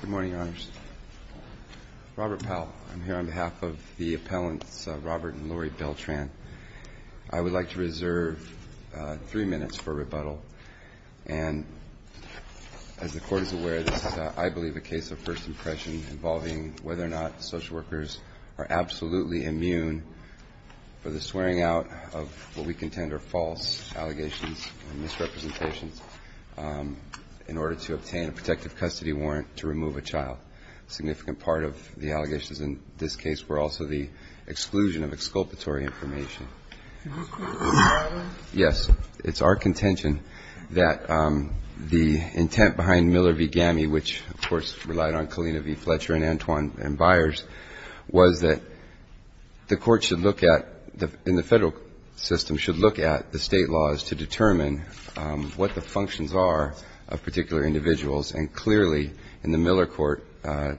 Good morning, Your Honors. Robert Powell. I'm here on behalf of the appellants Robert and Lori Beltran. I would like to reserve three minutes for rebuttal. And as the Court is aware, this is, I believe, a case of first impression involving whether or not social workers are absolutely immune for the warrant to remove a child. A significant part of the allegations in this case were also the exclusion of exculpatory information. Yes, it's our contention that the intent behind Miller v. GAMI, which, of course, relied on Kalina v. Fletcher and Antoine and Byers, was that the Court should look at, in the federal system, should look at the state laws to determine what the functions are of particular individuals. And clearly, in the Miller court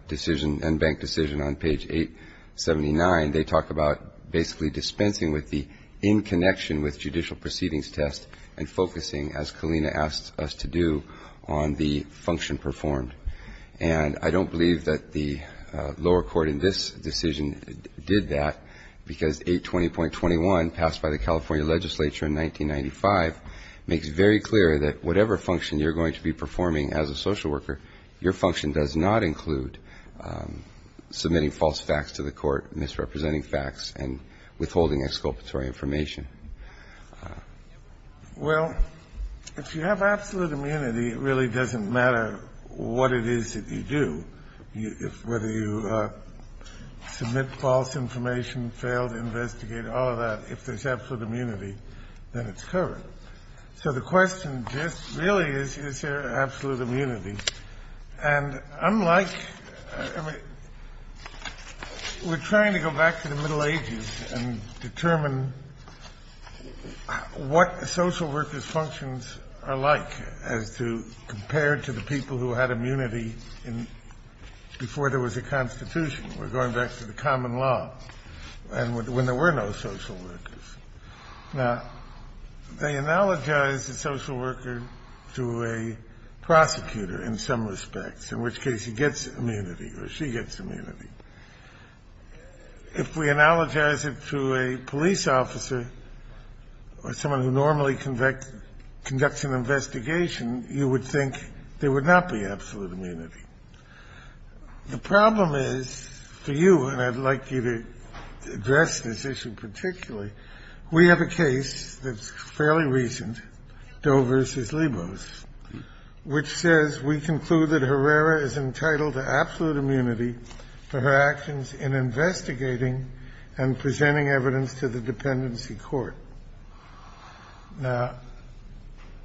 decision and bank decision on page 879, they talk about basically dispensing with the in-connection with judicial proceedings test and focusing, as Kalina asked us to do, on the function performed. And I don't believe that the lower court in this decision did that because 820.21, passed by the California legislature in 1995, makes very clear that whatever function you're going to be performing as a social worker, your function does not include submitting false facts to the court, misrepresenting facts, and withholding exculpatory information. Well, if you have absolute immunity, it really doesn't matter what it is that you do. Whether you submit false information, fail to investigate, all of that, if there's absolute immunity, then it's covered. So the question just really is, is there absolute immunity? And unlike — I mean, we're trying to go back to the Middle Ages and determine what social workers' functions are like as to — compared to the people who had immunity in — before there was a Constitution. We're going back to the common law and when there were no social workers. Now, they analogize the social worker to a prosecutor in some respects, in which case he gets immunity or she gets immunity. If we analogize it to a police officer or someone who normally conducts an investigation, you would think there would not be absolute immunity. The problem is, for you, and I'd like you to address this issue particularly, we have a case that's fairly recent, Doe v. Libos, which says, We conclude that Herrera is entitled to absolute immunity for her actions in investigating and presenting evidence to the dependency court. Now,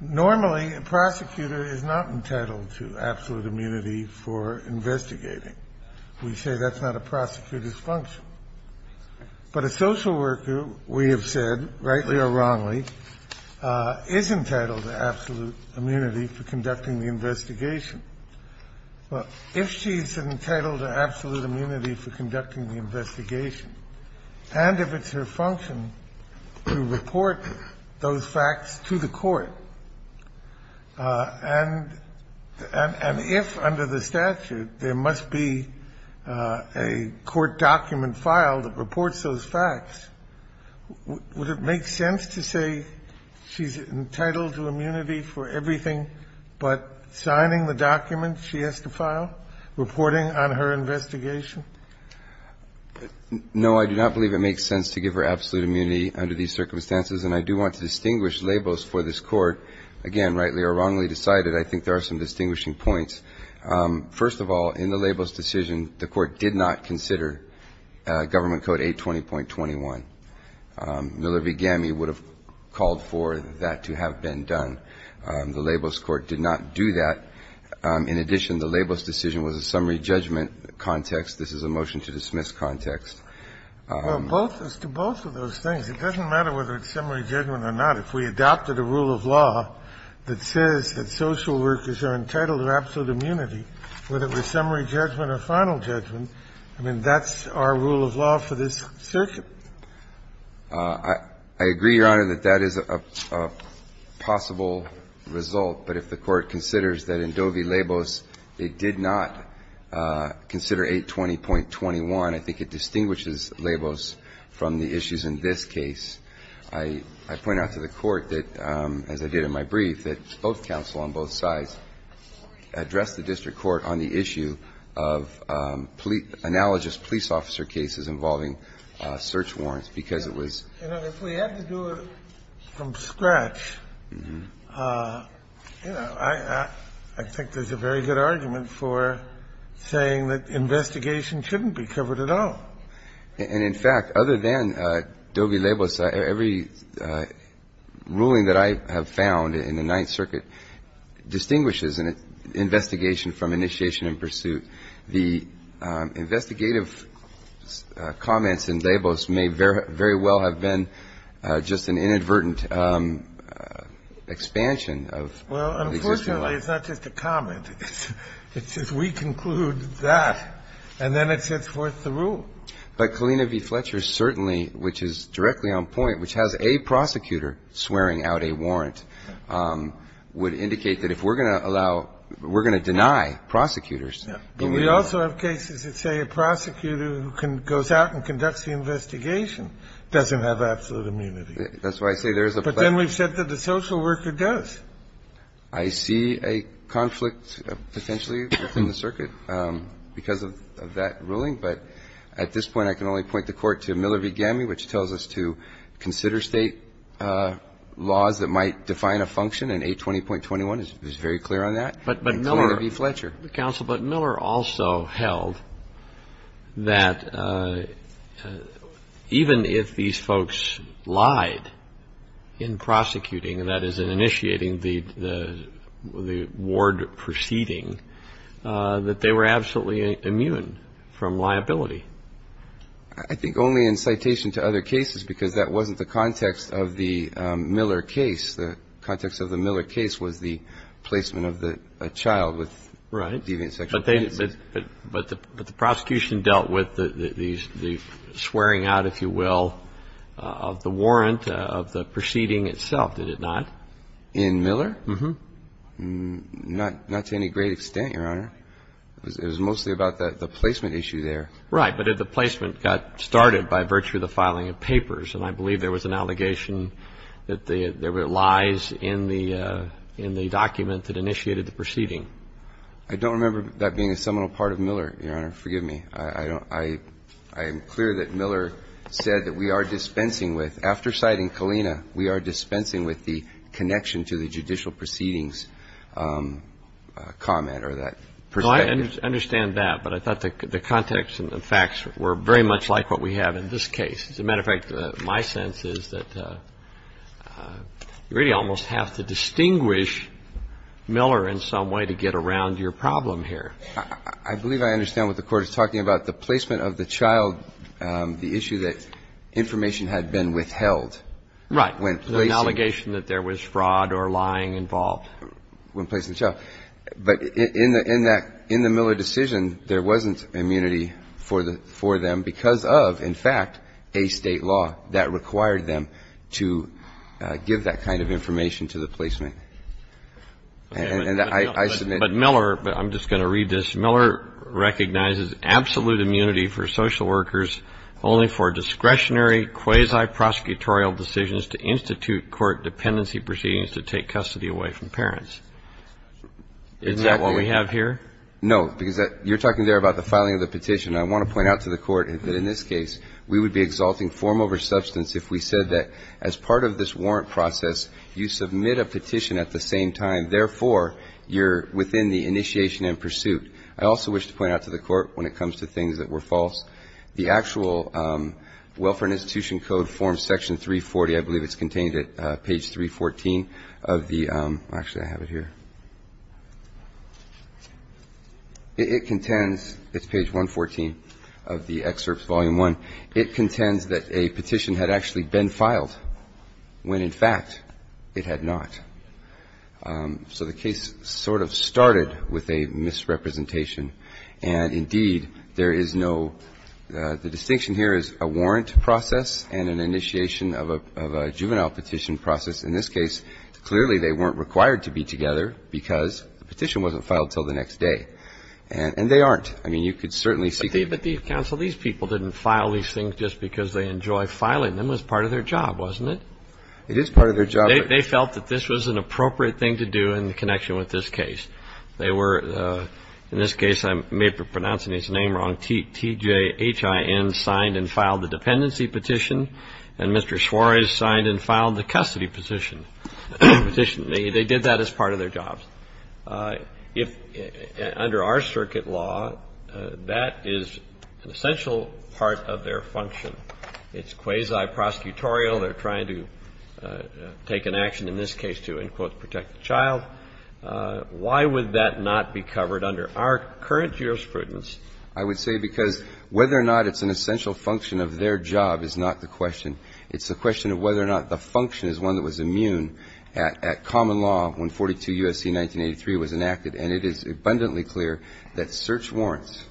normally a prosecutor is not entitled to absolute immunity for investigating. We say that's not a prosecutor's function. But a social worker, we have said, rightly or wrongly, is entitled to absolute immunity for conducting the investigation. Well, if she's entitled to absolute immunity for conducting the investigation and if it's her function to report those facts to the court, and if under the statute there must be a court document filed that reports those facts, would it make sense to say she's entitled to immunity for everything but signing the document she has to file, reporting on her investigation? No, I do not believe it makes sense to give her absolute immunity under these circumstances, and I do want to distinguish Libos for this Court. Again, rightly or wrongly decided, I think there are some distinguishing points. First of all, in the Libos decision, the Court did not consider Government Code 820.21. Miller v. Gamme would have called for that to have been done. The Libos Court did not do that. In addition, the Libos decision was a summary judgment context. This is a motion to dismiss context. Well, both, as to both of those things, it doesn't matter whether it's summary judgment or not. If we adopted a rule of law that says that social workers are entitled to absolute immunity, whether it was summary judgment or final judgment, I mean, that's our rule of law for this circuit. I agree, Your Honor, that that is a possible result, but if the Court considers that in Dovi Libos it did not consider 820.21, I think it distinguishes Libos from the issues in this case. I point out to the Court that, as I did in my brief, that both counsel on both sides addressed the district court on the issue of analogous police officer cases involving search warrants, because it was ---- You know, if we had to do it from scratch, you know, I think there's a very good argument for saying that investigation shouldn't be covered at all. And, in fact, other than Dovi Libos, every ruling that I have found in the Ninth Circuit distinguishes an investigation from initiation and pursuit. The investigative comments in Libos may very well have been just an inadvertent expansion of the existing law. Well, unfortunately, it's not just a comment. It's just we conclude that, and then it sets forth the rule. But Kalina v. Fletcher certainly, which is directly on point, which has a prosecutor swearing out a warrant, would indicate that if we're going to allow ---- we're going to deny prosecutors. But we also have cases that say a prosecutor who goes out and conducts the investigation doesn't have absolute immunity. That's why I say there's a ---- But then we've said that the social worker does. I see a conflict potentially within the circuit because of that ruling. But at this point, I can only point the Court to Miller v. Gamme, which tells us to consider State laws that might define a function, and A20.21 is very clear on that. But Miller also held that even if these folks lied in prosecuting, and that is in initiating the ward proceeding, that they were absolutely immune from liability. I think only in citation to other cases because that wasn't the context of the Miller case. The context of the Miller case was the placement of the child with deviant sexual offenses. Right. But they ---- but the prosecution dealt with the swearing out, if you will, of the warrant of the proceeding itself, did it not? In Miller? Uh-huh. Not to any great extent, Your Honor. It was mostly about the placement issue there. Right. But if the placement got started by virtue of the filing of papers, and I believe there was an allegation that there were lies in the document that initiated the proceeding. I don't remember that being a seminal part of Miller, Your Honor. Forgive me. I don't ---- I am clear that Miller said that we are dispensing with, after citing Kalina, we are dispensing with the connection to the judicial proceedings comment or that perspective. I understand that, but I thought the context and the facts were very much like what we have in this case. As a matter of fact, my sense is that you really almost have to distinguish Miller in some way to get around your problem here. I believe I understand what the Court is talking about. The placement of the child, the issue that information had been withheld. Right. When placing ---- An allegation that there was fraud or lying involved. When placing the child. But in the Miller decision, there wasn't immunity for them because of, in fact, a State law that required them to give that kind of information to the placement. And I submit ---- But Miller, but I'm just going to read this. Miller recognizes absolute immunity for social workers only for discretionary quasi-prosecutorial decisions to institute court dependency proceedings to take custody away from parents. Isn't that what we have here? No. Because you're talking there about the filing of the petition. I want to point out to the Court that in this case, we would be exalting form over substance if we said that as part of this warrant process, you submit a petition at the same time. Therefore, you're within the initiation and pursuit. I also wish to point out to the Court when it comes to things that were false, the actual Welfare and Institution Code, Form Section 340, I believe it's contained at page 314 of the ---- Actually, I have it here. It contends, it's page 114 of the excerpt, Volume 1. It contends that a petition had actually been filed when, in fact, it had not. So the case sort of started with a misrepresentation. And, indeed, there is no ---- the distinction here is a warrant process and an initiation of a juvenile petition process. In this case, clearly they weren't required to be together because the petition wasn't filed until the next day. And they aren't. I mean, you could certainly see ---- But, counsel, these people didn't file these things just because they enjoy filing them. It was part of their job, wasn't it? It is part of their job. They felt that this was an appropriate thing to do in connection with this case. They were, in this case, I may be pronouncing his name wrong, T.J. H.I.N. signed and filed the dependency petition. And Mr. Suarez signed and filed the custody petition. They did that as part of their job. Under our circuit law, that is an essential part of their function. It's quasi-prosecutorial. They're trying to take an action in this case to, in quotes, protect the child. Why would that not be covered under our current jurisprudence? I would say because whether or not it's an essential function of their job is not the question. It's the question of whether or not the function is one that was immune at common law when 42 U.S.C. 1983 was enacted. And it is abundantly clear that search warrants,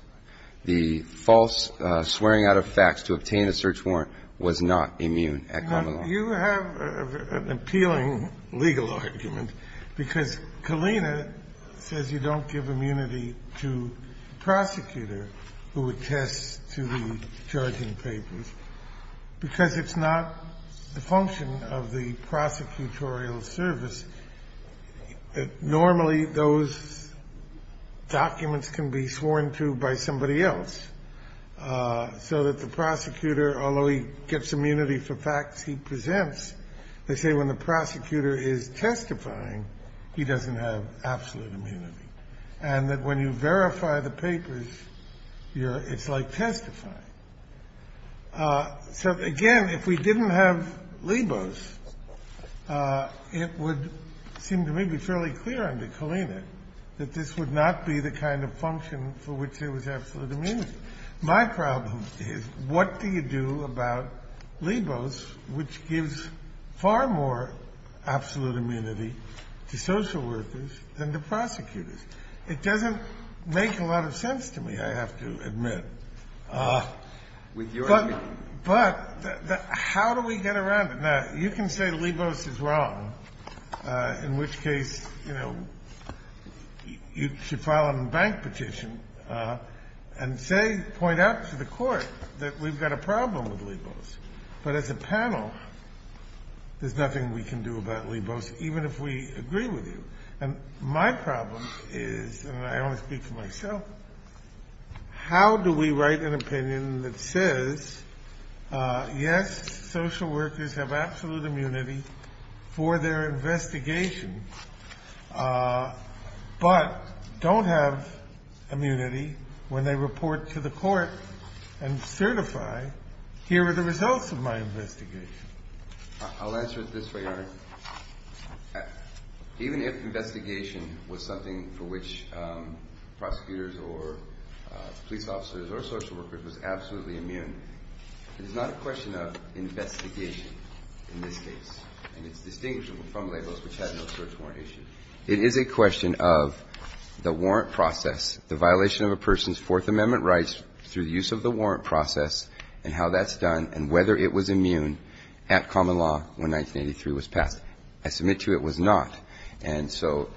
the false swearing out of facts to obtain a search warrant, was not immune at common law. You have an appealing legal argument because Kalina says you don't give immunity to the prosecutor who attests to the charging papers because it's not the function of the prosecutorial service. Normally, those documents can be sworn to by somebody else so that the prosecutor, although he gets immunity for facts he presents, they say when the prosecutor is testifying, he doesn't have absolute immunity, and that when you verify the papers, it's like testifying. So, again, if we didn't have LIBOS, it would seem to me to be fairly clear under Kalina that this would not be the kind of function for which there was absolute immunity. My problem is, what do you do about LIBOS, which gives far more absolute immunity to social workers than to prosecutors? It doesn't make a lot of sense to me, I have to admit. But how do we get around it? Now, you can say LIBOS is wrong, in which case, you know, you should file a bank petition and say, point out to the court that we've got a problem with LIBOS. But as a panel, there's nothing we can do about LIBOS, even if we agree with you. And my problem is, and I only speak for myself, how do we write an opinion that says, yes, social workers have absolute immunity for their investigation, but don't have immunity when they report to the court and certify, here are the results of my investigation. I'll answer it this way, Your Honor. Even if investigation was something for which prosecutors or police officers or social workers was absolutely immune, it is not a question of investigation in this case. And it's distinguishable from LIBOS, which has no search warrant issue. It is a question of the warrant process, the violation of a person's Fourth Amendment rights through the use of the warrant process and how that's done, and whether it was immune at common law when 1983 was passed. I submit to you it was not. And so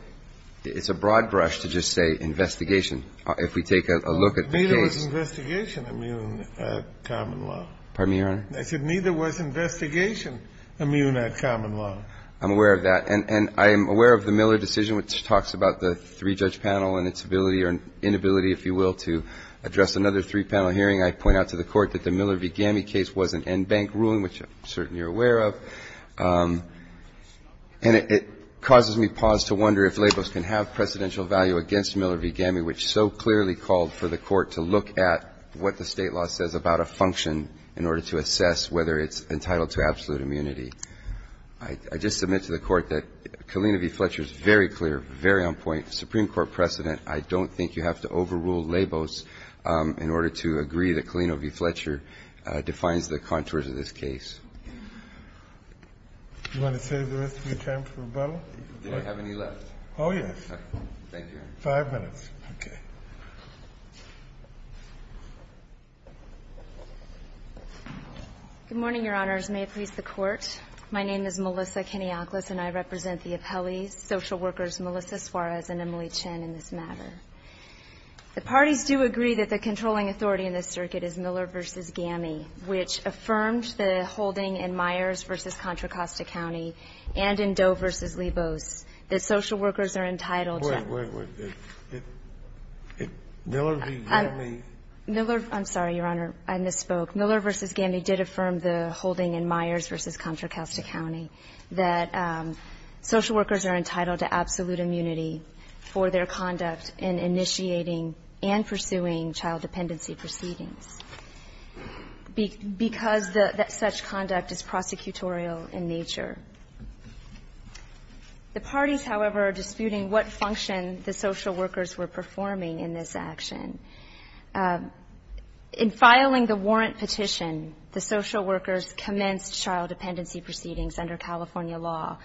it's a broad brush to just say investigation. If we take a look at the case. Neither was investigation immune at common law. Pardon me, Your Honor? I said neither was investigation immune at common law. I'm aware of that. And I am aware of the Miller decision, which talks about the three-judge panel and its ability or inability, if you will, to address another three-panel hearing. I point out to the Court that the Miller v. Gammey case was an en banc ruling, which I'm certain you're aware of. And it causes me pause to wonder if LIBOS can have precedential value against Miller v. Gammey, which so clearly called for the Court to look at what the State law says about a function in order to assess whether it's entitled to absolute immunity. I just submit to the Court that Kalina v. Fletcher is very clear, very on point. Supreme Court precedent. I don't think you have to overrule LIBOS in order to agree that Kalina v. Fletcher defines the contours of this case. Do you want to save the rest of your time for rebuttal? Do I have any left? Oh, yes. Thank you. Five minutes. Okay. Good morning, Your Honors. May it please the Court. My name is Melissa Keniakles, and I represent the appellees, social workers Melissa Suarez and Emily Chen, in this matter. The parties do agree that the controlling authority in this circuit is Miller v. Gammey, which affirmed the holding in Myers v. Contra Costa County and in Doe v. LIBOS that Miller v. Gammey. I'm sorry, Your Honor. I misspoke. Miller v. Gammey did affirm the holding in Myers v. Contra Costa County that social workers are entitled to absolute immunity for their conduct in initiating and pursuing child dependency proceedings because such conduct is prosecutorial in nature. The parties, however, are disputing what function the social workers were performing in this action. In filing the warrant petition, the social workers commenced child dependency proceedings under California law.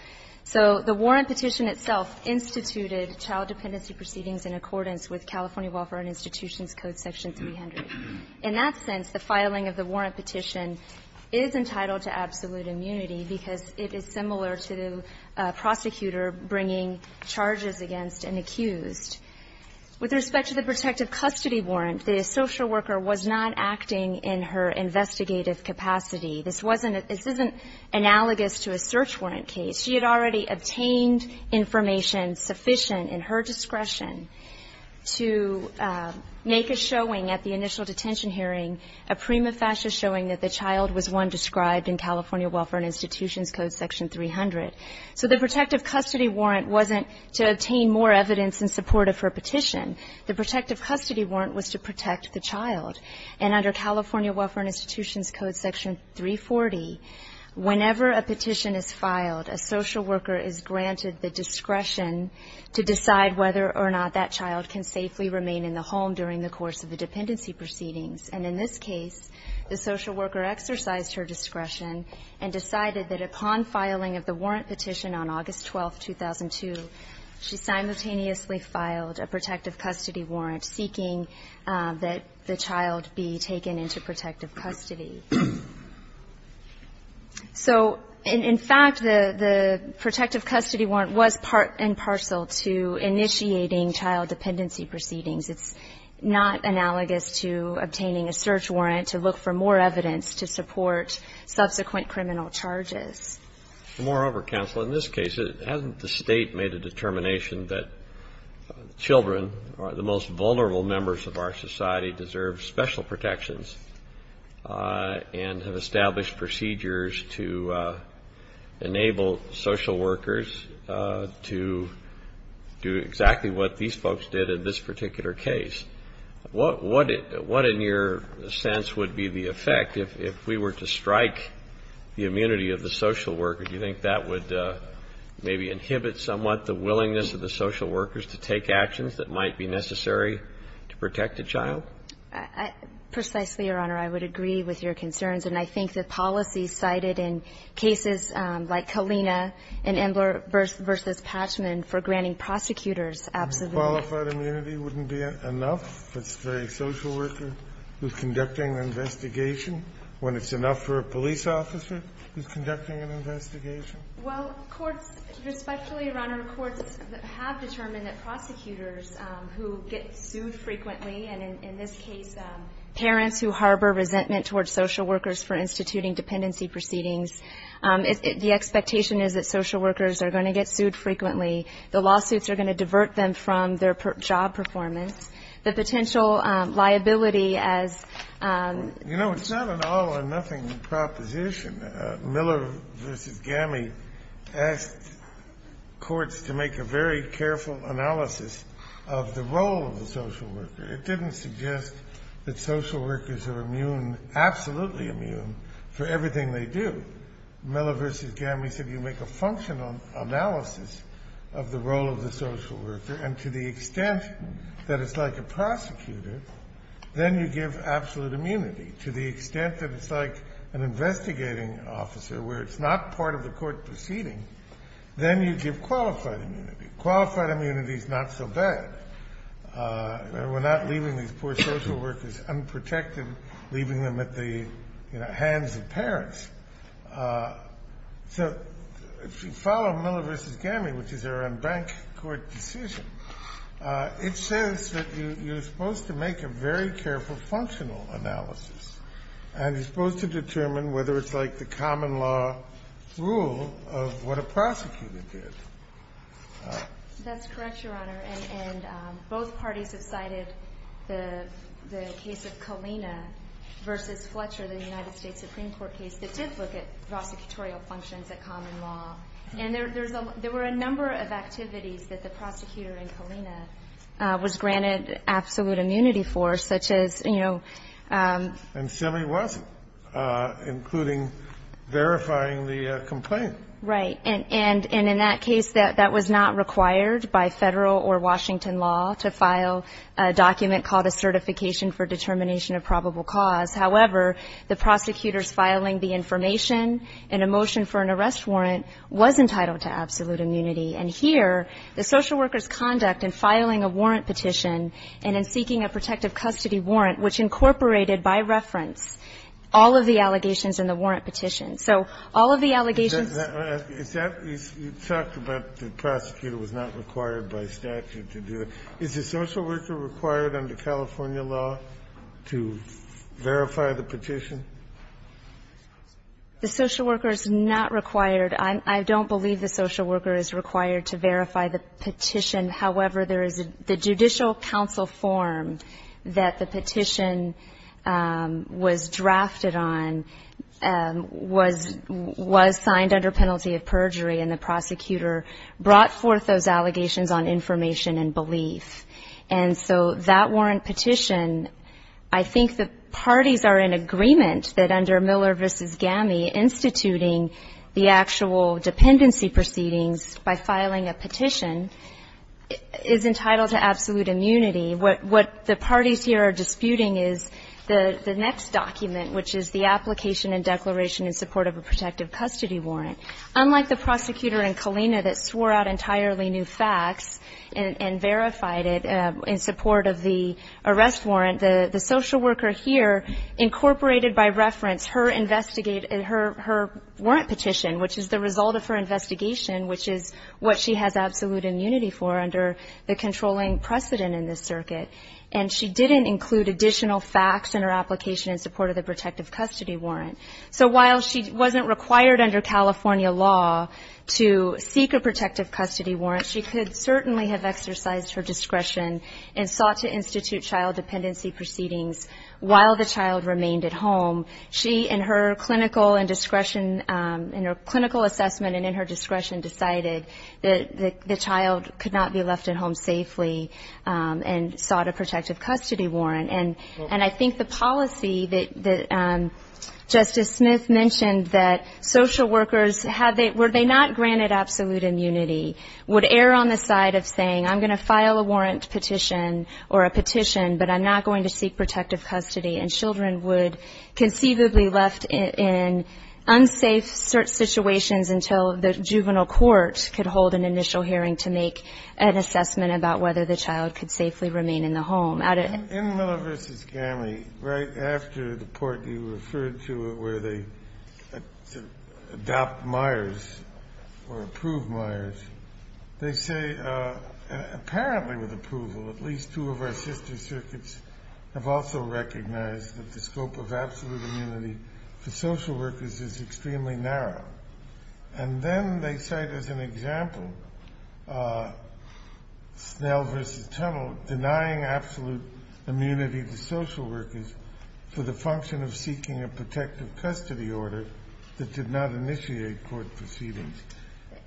So the warrant petition itself instituted child dependency proceedings in accordance with California Welfare and Institutions Code section 300. In that sense, the filing of the warrant petition is entitled to absolute immunity because it is similar to a prosecutor bringing charges against an accused. With respect to the protective custody warrant, the social worker was not acting in her investigative capacity. This wasn't analogous to a search warrant case. She had already obtained information sufficient in her discretion to make a showing at the initial detention hearing, a prima facie showing that the child was one described in California Welfare and Institutions Code section 300. So the protective custody warrant wasn't to obtain more evidence in support of her petition. The protective custody warrant was to protect the child. And under California Welfare and Institutions Code section 340, whenever a petition is filed, a social worker is granted the discretion to decide whether or not that child can safely remain in the home during the course of the dependency proceedings. And in this case, the social worker exercised her discretion and decided that upon filing of the warrant petition on August 12, 2002, she simultaneously filed a protective custody warrant seeking that the child be taken into protective custody. So in fact, the protective custody warrant was part and parcel to initiating child dependency proceedings. It's not analogous to obtaining a search warrant to look for more evidence to support subsequent criminal charges. Moreover, counsel, in this case, hasn't the State made a determination that children, the most vulnerable members of our society, deserve special protections and have established procedures to enable social workers to do exactly what these folks did at this particular case? What in your sense would be the effect? If we were to strike the immunity of the social worker, do you think that would maybe inhibit somewhat the willingness of the social workers to take actions that might be necessary to protect a child? Precisely, Your Honor. I would agree with your concerns. And I think the policy cited in cases like Kalina and Emler v. Patchman for granting prosecutors absolutely not. So qualified immunity wouldn't be enough for a social worker who's conducting an investigation when it's enough for a police officer who's conducting an investigation? Well, courts, respectfully, Your Honor, courts have determined that prosecutors who get sued frequently, and in this case parents who harbor resentment towards social workers for instituting dependency proceedings, the expectation is that social workers are going to get sued frequently. The lawsuits are going to divert them from their job performance. The potential liability as You know, it's not an all or nothing proposition. Miller v. Gammy asked courts to make a very careful analysis of the role of the social worker. It didn't suggest that social workers are immune, absolutely immune, for everything they do. Miller v. Gammy said you make a functional analysis of the role of the social worker and to the extent that it's like a prosecutor, then you give absolute immunity. To the extent that it's like an investigating officer where it's not part of the court proceeding, then you give qualified immunity. Qualified immunity is not so bad. We're not leaving these poor social workers unprotected, leaving them at the hands of So if you follow Miller v. Gammy, which is a bank court decision, it says that you're supposed to make a very careful functional analysis, and you're supposed to determine whether it's like the common law rule of what a prosecutor did. That's correct, Your Honor, and both parties have cited the case of Colina v. Fletcher, the United States Supreme Court case, that did look at prosecutorial functions at common law. And there were a number of activities that the prosecutor in Colina was granted absolute immunity for, such as, you know ---- And Semme was, including verifying the complaint. Right. And in that case, that was not required by Federal or Washington law to file a document called a Certification for Determination of Probable Cause. However, the prosecutor's filing the information in a motion for an arrest warrant was entitled to absolute immunity. And here, the social worker's conduct in filing a warrant petition and in seeking a protective custody warrant, which incorporated by reference all of the allegations in the warrant petition. So all of the allegations ---- You talked about the prosecutor was not required by statute to do it. Is the social worker required under California law to verify the petition? The social worker is not required. I don't believe the social worker is required to verify the petition. However, there is a judicial counsel form that the petition was drafted on, was signed under penalty of perjury, and the prosecutor brought forth those allegations on information and belief. And so that warrant petition, I think the parties are in agreement that under Miller v. GAMI, instituting the actual dependency proceedings by filing a petition is entitled to absolute immunity. What the parties here are disputing is the next document, which is the application and declaration in support of a protective custody warrant. Unlike the prosecutor in Kalina that swore out entirely new facts and verified it in support of the arrest warrant, the social worker here incorporated by reference her warrant petition, which is the result of her investigation, which is what she has absolute immunity for under the controlling precedent in this circuit. And she didn't include additional facts in her application in support of the protective custody warrant. So while she wasn't required under California law to seek a protective custody warrant, she could certainly have exercised her discretion and sought to institute child dependency proceedings while the child remained at home. She, in her clinical and discretion, in her clinical assessment and in her discretion, decided that the child could not be left at home safely and sought a protective custody warrant. And I think the policy that Justice Smith mentioned that social workers, were they not granted absolute immunity, would err on the side of saying, I'm going to file a warrant petition or a petition, but I'm not going to seek protective custody. And children would conceivably be left in unsafe situations until the juvenile court could hold an initial hearing to make an assessment about whether the child could safely remain in the home. In Miller v. Gammie, right after the part you referred to where they adopt Myers or approve Myers, they say, apparently with approval, at least two of our sister circuits have also recognized that the scope of absolute immunity for social workers is extremely narrow. And then they cite as an example, Snell v. Tunnell, denying absolute immunity to social workers for the function of seeking a protective custody order that did not initiate court proceedings.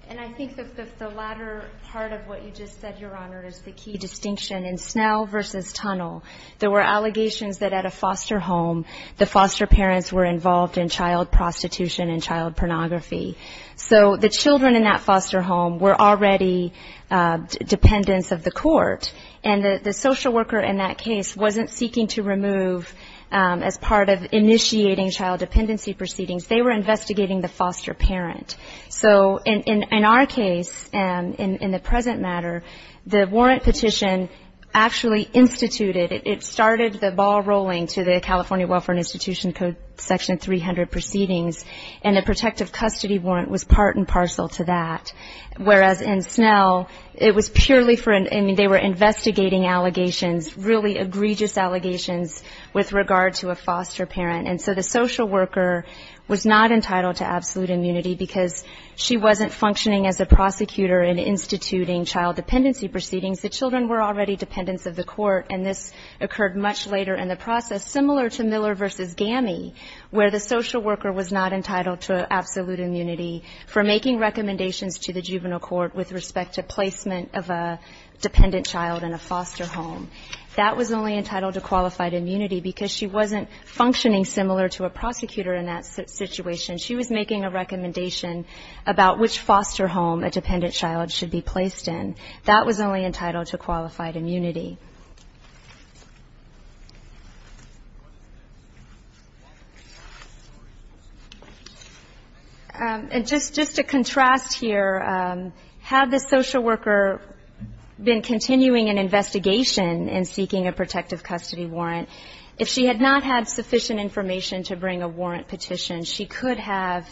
And I think that the latter part of what you just said, Your Honor, is the key distinction. In Snell v. Tunnell, there were allegations that at a foster home, the foster parents were involved in child prostitution and child pornography. So the children in that foster home were already dependents of the court. And the social worker in that case wasn't seeking to remove as part of initiating child dependency proceedings. They were investigating the foster parent. So in our case, in the present matter, the warrant petition actually instituted, it started the ball rolling to the California Welfare Institution Code Section 300 Proceedings, and the protective custody warrant was part and parcel to that. Whereas in Snell, it was purely for, I mean, they were investigating allegations, really egregious allegations with regard to a foster parent. And so the social worker was not entitled to absolute immunity because she wasn't functioning as a prosecutor in instituting child dependency proceedings. The children were already dependents of the court. And this occurred much later in the process, similar to Miller v. GAMI, where the social worker was not entitled to absolute immunity for making recommendations to the juvenile court with respect to placement of a dependent child in a foster home. That was only entitled to qualified immunity because she wasn't functioning similar to a prosecutor in that situation. She was making a recommendation about which foster home a dependent child should be placed in. That was only entitled to qualified immunity. And just to contrast here, had the social worker been continuing an investigation in seeking a protective custody warrant, if she had not had sufficient information to bring a warrant petition, she could have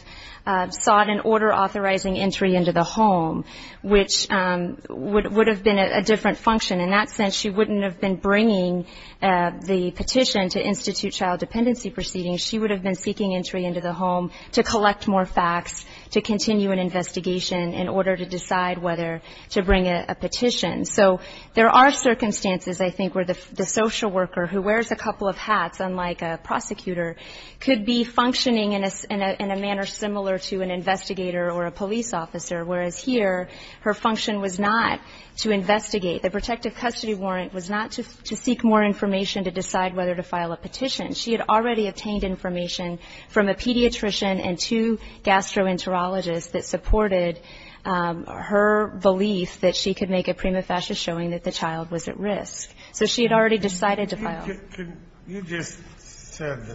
sought an order authorizing entry into the home, which would have been a different function. In that sense, she wouldn't have been bringing the petition to institute child dependency proceedings. She would have been seeking entry into the home to collect more facts to continue an investigation in order to decide whether to bring a petition. So there are circumstances, I think, where the social worker who wears a couple of hats, unlike a prosecutor, could be functioning in a manner similar to an investigator or a police officer, whereas here her function was not to investigate. The protective custody warrant was not to seek more information to decide whether to file a petition. She had already obtained information from a pediatrician and two gastroenterologists that supported her belief that she could make a prima facie showing that the child was at risk. So she had already decided to file. Kennedy, you just said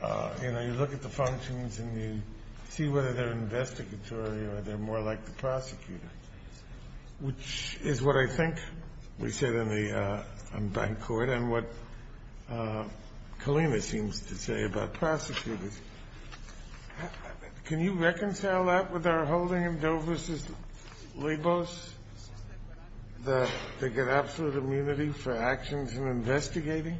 that, you know, you look at the functions and you see whether they're investigatory or they're more like the prosecutor, which is what I think we said in the bank court and what Kalina seems to say about prosecutors. Can you reconcile that with our holding in Doe v. Libos that they get absolute immunity for actions in investigating?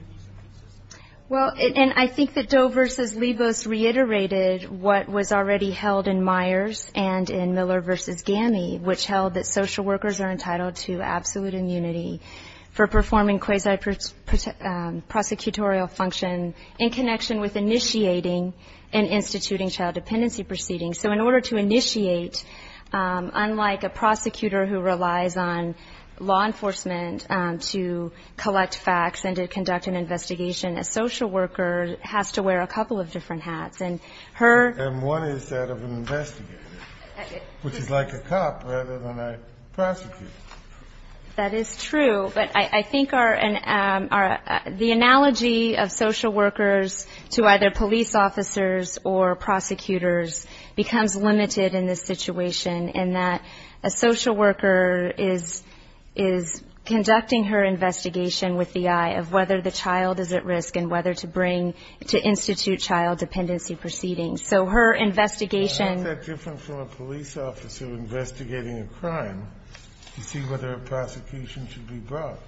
Well, and I think that Doe v. Libos reiterated what was already held in Doe v. Libos in Myers and in Miller v. GAMI, which held that social workers are entitled to absolute immunity for performing quasi-prosecutorial function in connection with initiating and instituting child dependency proceedings. So in order to initiate, unlike a prosecutor who relies on law enforcement to collect facts and to conduct an investigation, a social worker has to wear a couple of different hats. And one is that of an investigator, which is like a cop rather than a prosecutor. That is true. But I think the analogy of social workers to either police officers or prosecutors becomes limited in this situation in that a social worker is conducting her investigation with the eye of whether the child is at risk and whether to bring, to institute child dependency proceedings. So her investigation --- How is that different from a police officer investigating a crime to see whether a prosecution should be brought?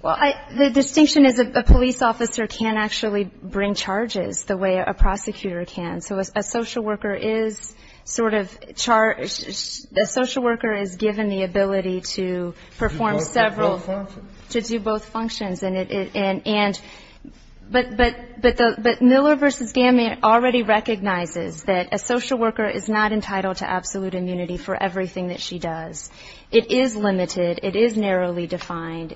Well, the distinction is a police officer can't actually bring charges the way a prosecutor can, so a social worker is sort of charged, a social worker is given the ability to perform several, to do both functions. But Miller v. GAMI already recognizes that a social worker is not entitled to absolute immunity for everything that she does. It is limited, it is narrowly defined,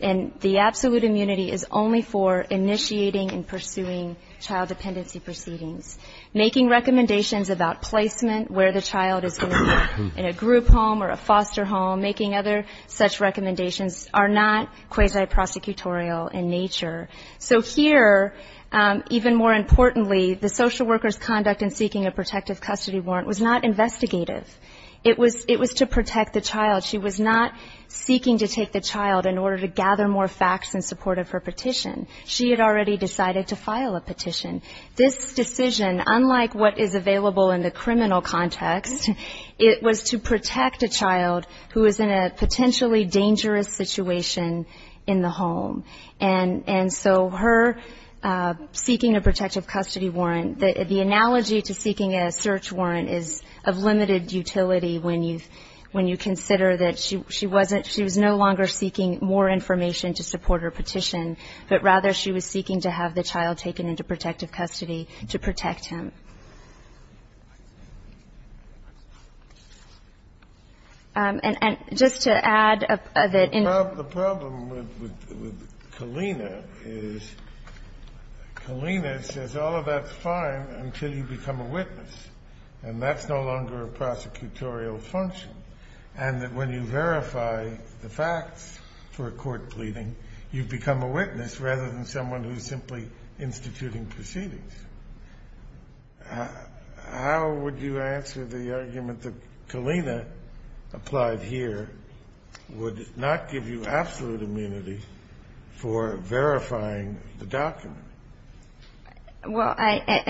and the absolute immunity is only for initiating and pursuing child dependency proceedings. Making recommendations about placement, where the child is going to be, in a group home or a foster home, making other such recommendations are not quasi-prosecutorial in nature. So here, even more importantly, the social worker's conduct in seeking a protective custody warrant was not investigative. It was to protect the child. She was not seeking to take the child in order to gather more facts in support of her petition. She had already decided to file a petition. This decision, unlike what is available in the criminal context, it was to protect a child who was in a potentially dangerous situation in the home. And so her seeking a protective custody warrant, the analogy to seeking a search warrant is of limited utility when you consider that she wasn't, she was no longer seeking more facts in support of her petition, but rather she was seeking to have the child taken into protective custody to protect him. And just to add that in the problem with Kalina is Kalina says all of that's fine until you become a witness, and that's no longer a prosecutorial function, and that when you verify the facts for a court pleading, you've become a witness rather than someone who's simply instituting proceedings. How would you answer the argument that Kalina applied here would not give you absolute immunity for verifying the document? Well, and that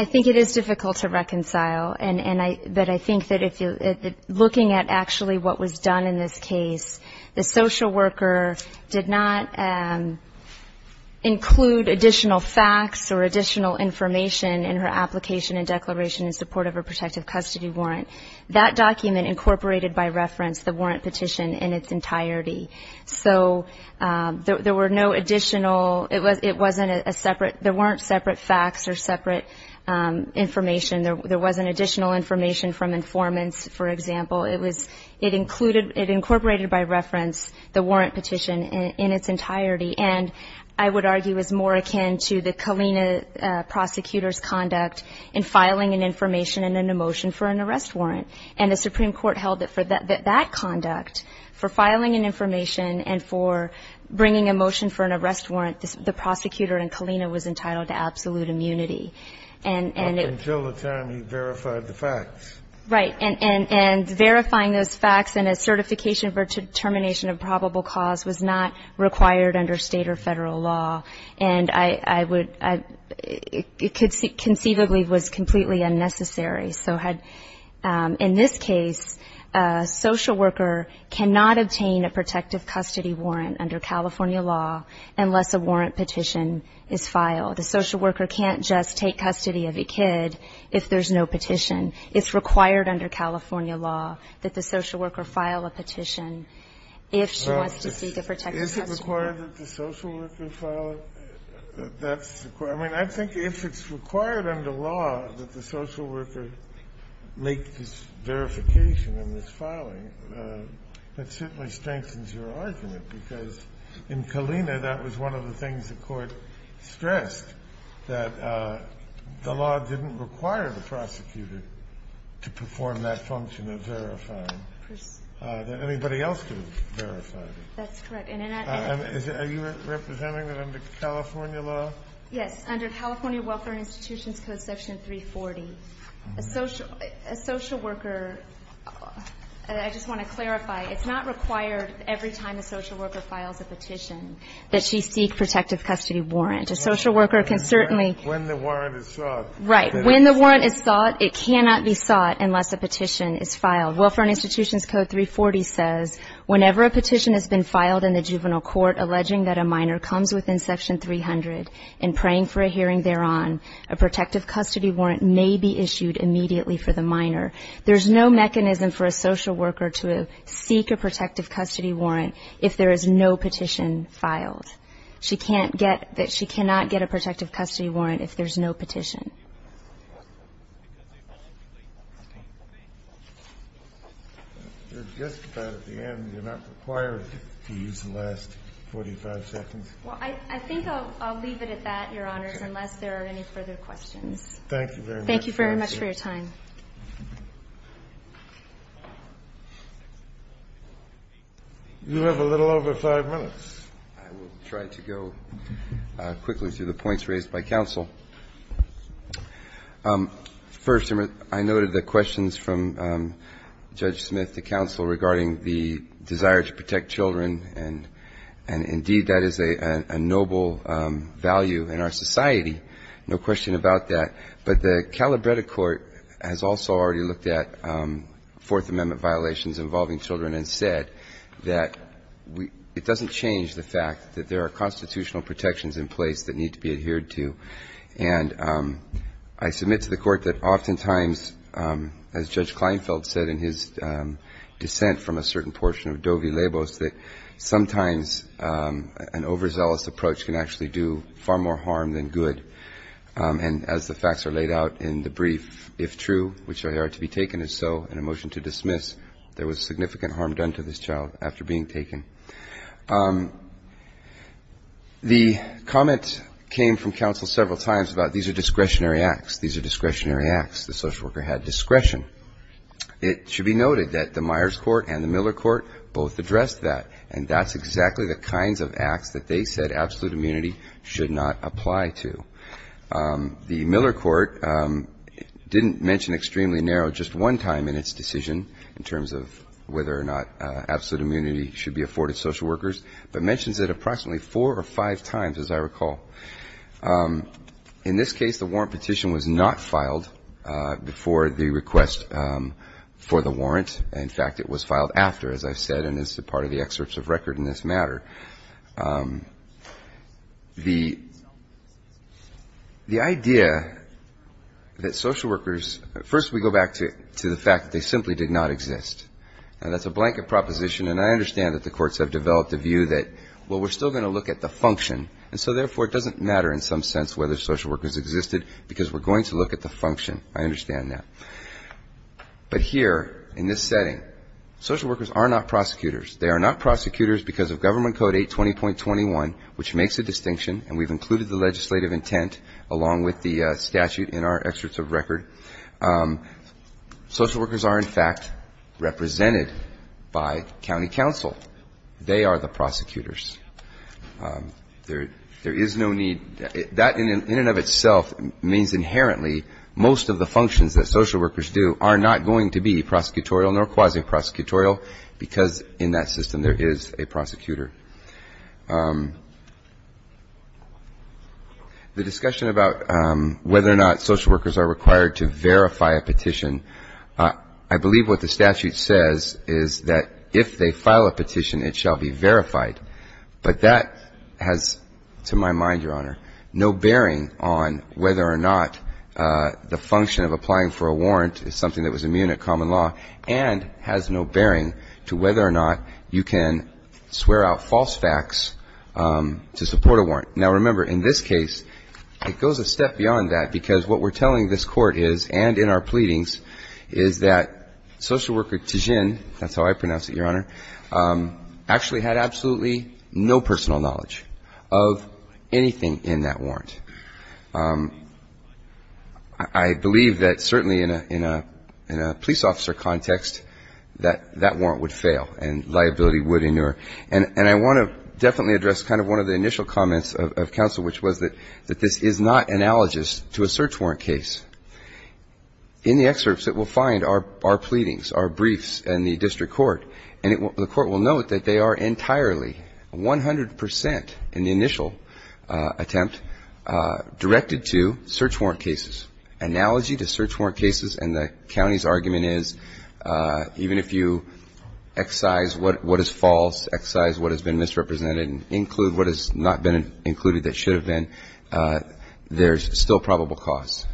I think that if you, looking at actually what was done in this case, the social worker did not include additional facts or additional information in her application and declaration in support of her protective custody warrant. That document incorporated by reference the warrant petition in its entirety. So there were no additional, it wasn't a separate, there weren't separate facts or separate information. There wasn't additional information from informants, for example. It was, it included, it incorporated by reference the warrant petition in its entirety, and I would argue is more akin to the Kalina prosecutor's conduct in filing an information and then a motion for an arrest warrant. And the Supreme Court held that for that conduct, for filing an information and for bringing a motion for an arrest warrant, the prosecutor in Kalina was entitled to absolute immunity. Until the time you verified the facts. Right. And verifying those facts and a certification for determination of probable cause was not required under State or Federal law. And I would, it conceivably was completely unnecessary. So had, in this case, a social worker cannot obtain a protective custody warrant under California law unless a warrant petition is filed. The social worker can't just take custody of a kid if there's no petition. It's required under California law that the social worker file a petition if she wants to seek a protective custody warrant. Kennedy, is it required that the social worker file a, that's, I mean, I think if it's required under law that the social worker make this verification in this filing, that certainly strengthens your argument, because in Kalina that was one of the things the Court stressed, that the law didn't require the prosecutor to perform that function of verifying, that anybody else could have verified it. That's correct. And in that case. Are you representing that under California law? Yes. Under California Welfare Institutions Code Section 340, a social worker, and I just want to clarify, it's not required every time a social worker files a petition that she seek protective custody warrant. A social worker can certainly. When the warrant is sought. Right. When the warrant is sought, it cannot be sought unless a petition is filed. Welfare Institutions Code 340 says whenever a petition has been filed in the juvenile court alleging that a minor comes within Section 300 and praying for a hearing thereon, a protective custody warrant may be issued immediately for the minor. There's no mechanism for a social worker to seek a protective custody warrant if there is no petition filed. She can't get, she cannot get a protective custody warrant if there's no petition. Just about at the end, you're not required to use the last 45 seconds. Well, I think I'll leave it at that, Your Honors, unless there are any further questions. Thank you very much. Thank you very much for your time. You have a little over five minutes. I will try to go quickly through the points raised by counsel. First, I noted the questions from Judge Smith to counsel regarding the desire to protect children, and indeed that is a noble value in our society, no question about that. But the Calabretta Court has also already looked at Fourth Amendment violations involving children and said that it doesn't change the fact that there are constitutional protections in place that need to be adhered to. And I submit to the Court that oftentimes, as Judge Kleinfeld said in his dissent from a certain portion of Dovi Labos, that sometimes an overzealous approach can actually do far more harm than good. And as the facts are laid out in the brief, if true, which are there to be taken as so, and a motion to dismiss, there was significant harm done to this child after being taken. The comment came from counsel several times about these are discretionary acts. These are discretionary acts. The social worker had discretion. It should be noted that the Myers Court and the Miller Court both addressed that, and that's exactly the kinds of acts that they said absolute immunity should not apply to. The Miller Court didn't mention extremely narrow just one time in its decision in terms of whether or not absolute immunity should be afforded social workers, but mentions it approximately four or five times, as I recall. In this case, the warrant petition was not filed before the request for the warrant. In fact, it was filed after, as I said, and it's a part of the excerpts of record in this matter. The idea that social workers, first we go back to the fact that they simply did not exist. Now, that's a blanket proposition, and I understand that the courts have developed a view that, well, we're still going to look at the function, and so therefore it doesn't matter in some sense whether social workers existed because we're going to look at the function. I understand that. But here in this setting, social workers are not prosecutors. They are not prosecutors because of Government Code 820.21, which makes a distinction, and we've included the legislative intent along with the statute in our excerpts of record. Social workers are, in fact, represented by county counsel. They are the prosecutors. There is no need. That in and of itself means inherently most of the functions that social workers do are not going to be prosecutorial nor quasi-prosecutorial because in that system there is a prosecutor. The discussion about whether or not social workers are required to verify a petition, I believe what the statute says is that if they file a petition, it shall be verified. But that has, to my mind, Your Honor, no bearing on whether or not the function of applying for a warrant is something that was immune at common law and has no bearing to whether or not you can swear out false facts to support a warrant. Now, remember, in this case, it goes a step beyond that because what we're telling this Court is and in our pleadings is that social worker Tijin, that's how I pronounce it, Your Honor, actually had absolutely no personal knowledge of anything in that warrant. I believe that certainly in a police officer context that that warrant would fail and liability would endure. And I want to definitely address kind of one of the initial comments of counsel, which was that this is not analogous to a search warrant case. In the excerpts that we'll find, our pleadings, our briefs and the district court, and the court will note that they are entirely, 100 percent in the initial attempt, directed to search warrant cases. Analogy to search warrant cases and the county's argument is even if you excise what is false, excise what has been misrepresented and include what has not been included that should have been, there's still probable cause.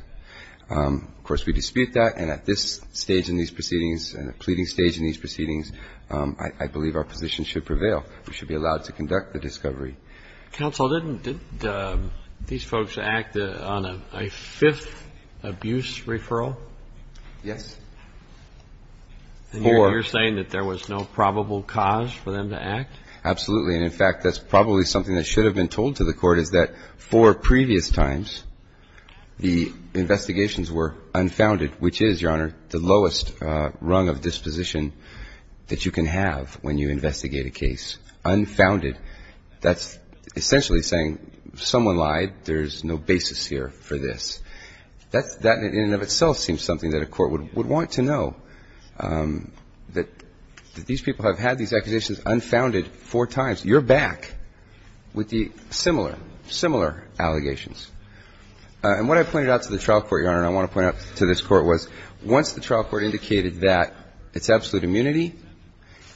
Of course, we dispute that and at this stage in these proceedings and the pleading stage in these proceedings, I believe our position should prevail. We should be allowed to conduct the discovery. Counsel, didn't these folks act on a fifth abuse referral? Yes. Four. And you're saying that there was no probable cause for them to act? Absolutely. And in fact, that's probably something that should have been told to the court, is that four previous times the investigations were unfounded, which is, Your Honor, the lowest rung of disposition that you can have when you investigate a case. Unfounded. That's essentially saying someone lied. There's no basis here for this. That in and of itself seems something that a court would want to know, that these people have had these accusations unfounded four times. You're back with the similar, similar allegations. And what I pointed out to the trial court, Your Honor, and I want to point out to this court was once the trial court indicated that it's absolute immunity,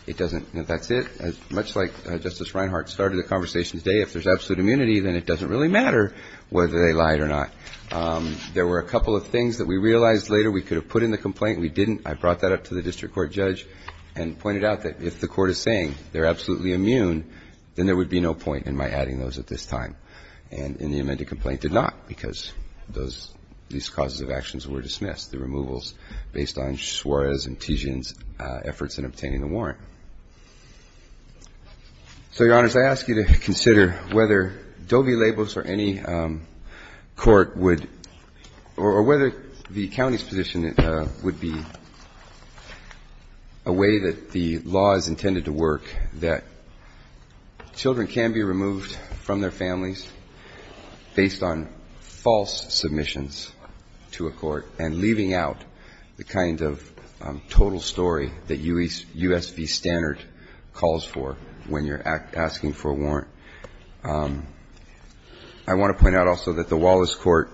it doesn't, that's it. Much like Justice Reinhart started the conversation today, if there's absolute immunity, then it doesn't really matter whether they lied or not. There were a couple of things that we realized later we could have put in the complaint and we didn't. I brought that up to the district court judge and pointed out that if the court is saying they're absolutely immune, then there would be no point in my adding those at this time. And the amended complaint did not because those, these causes of actions were dismissed, the removals based on Suarez and Tijin's efforts in obtaining the warrant. So, Your Honors, I ask you to consider whether Doe v. Labos or any court would, or whether the county's position would be a way that the law is intended to work that children can be removed from their families based on false submissions to a court and leaving out the kind of total story that U.S. v. Standard calls for I want to point out also that the Wallace Court,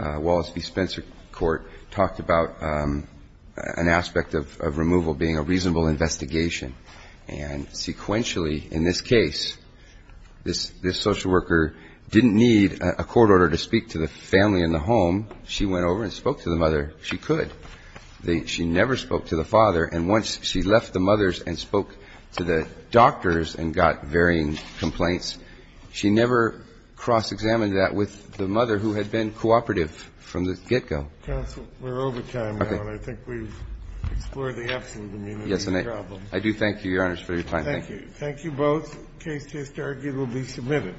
Wallace v. Spencer Court, talked about an aspect of removal being a reasonable investigation. And sequentially in this case, this social worker didn't need a court order to speak to the family in the home. She went over and spoke to the mother. She could. She never spoke to the father. And once she left the mother's and spoke to the doctor's and got varying complaints, she never cross-examined that with the mother who had been cooperative from the get-go. Counsel, we're over time, Your Honor. I think we've explored the absolute immunity problem. Yes, and I do thank you, Your Honors, for your time. Thank you. Thank you both. The case is arguably submitted.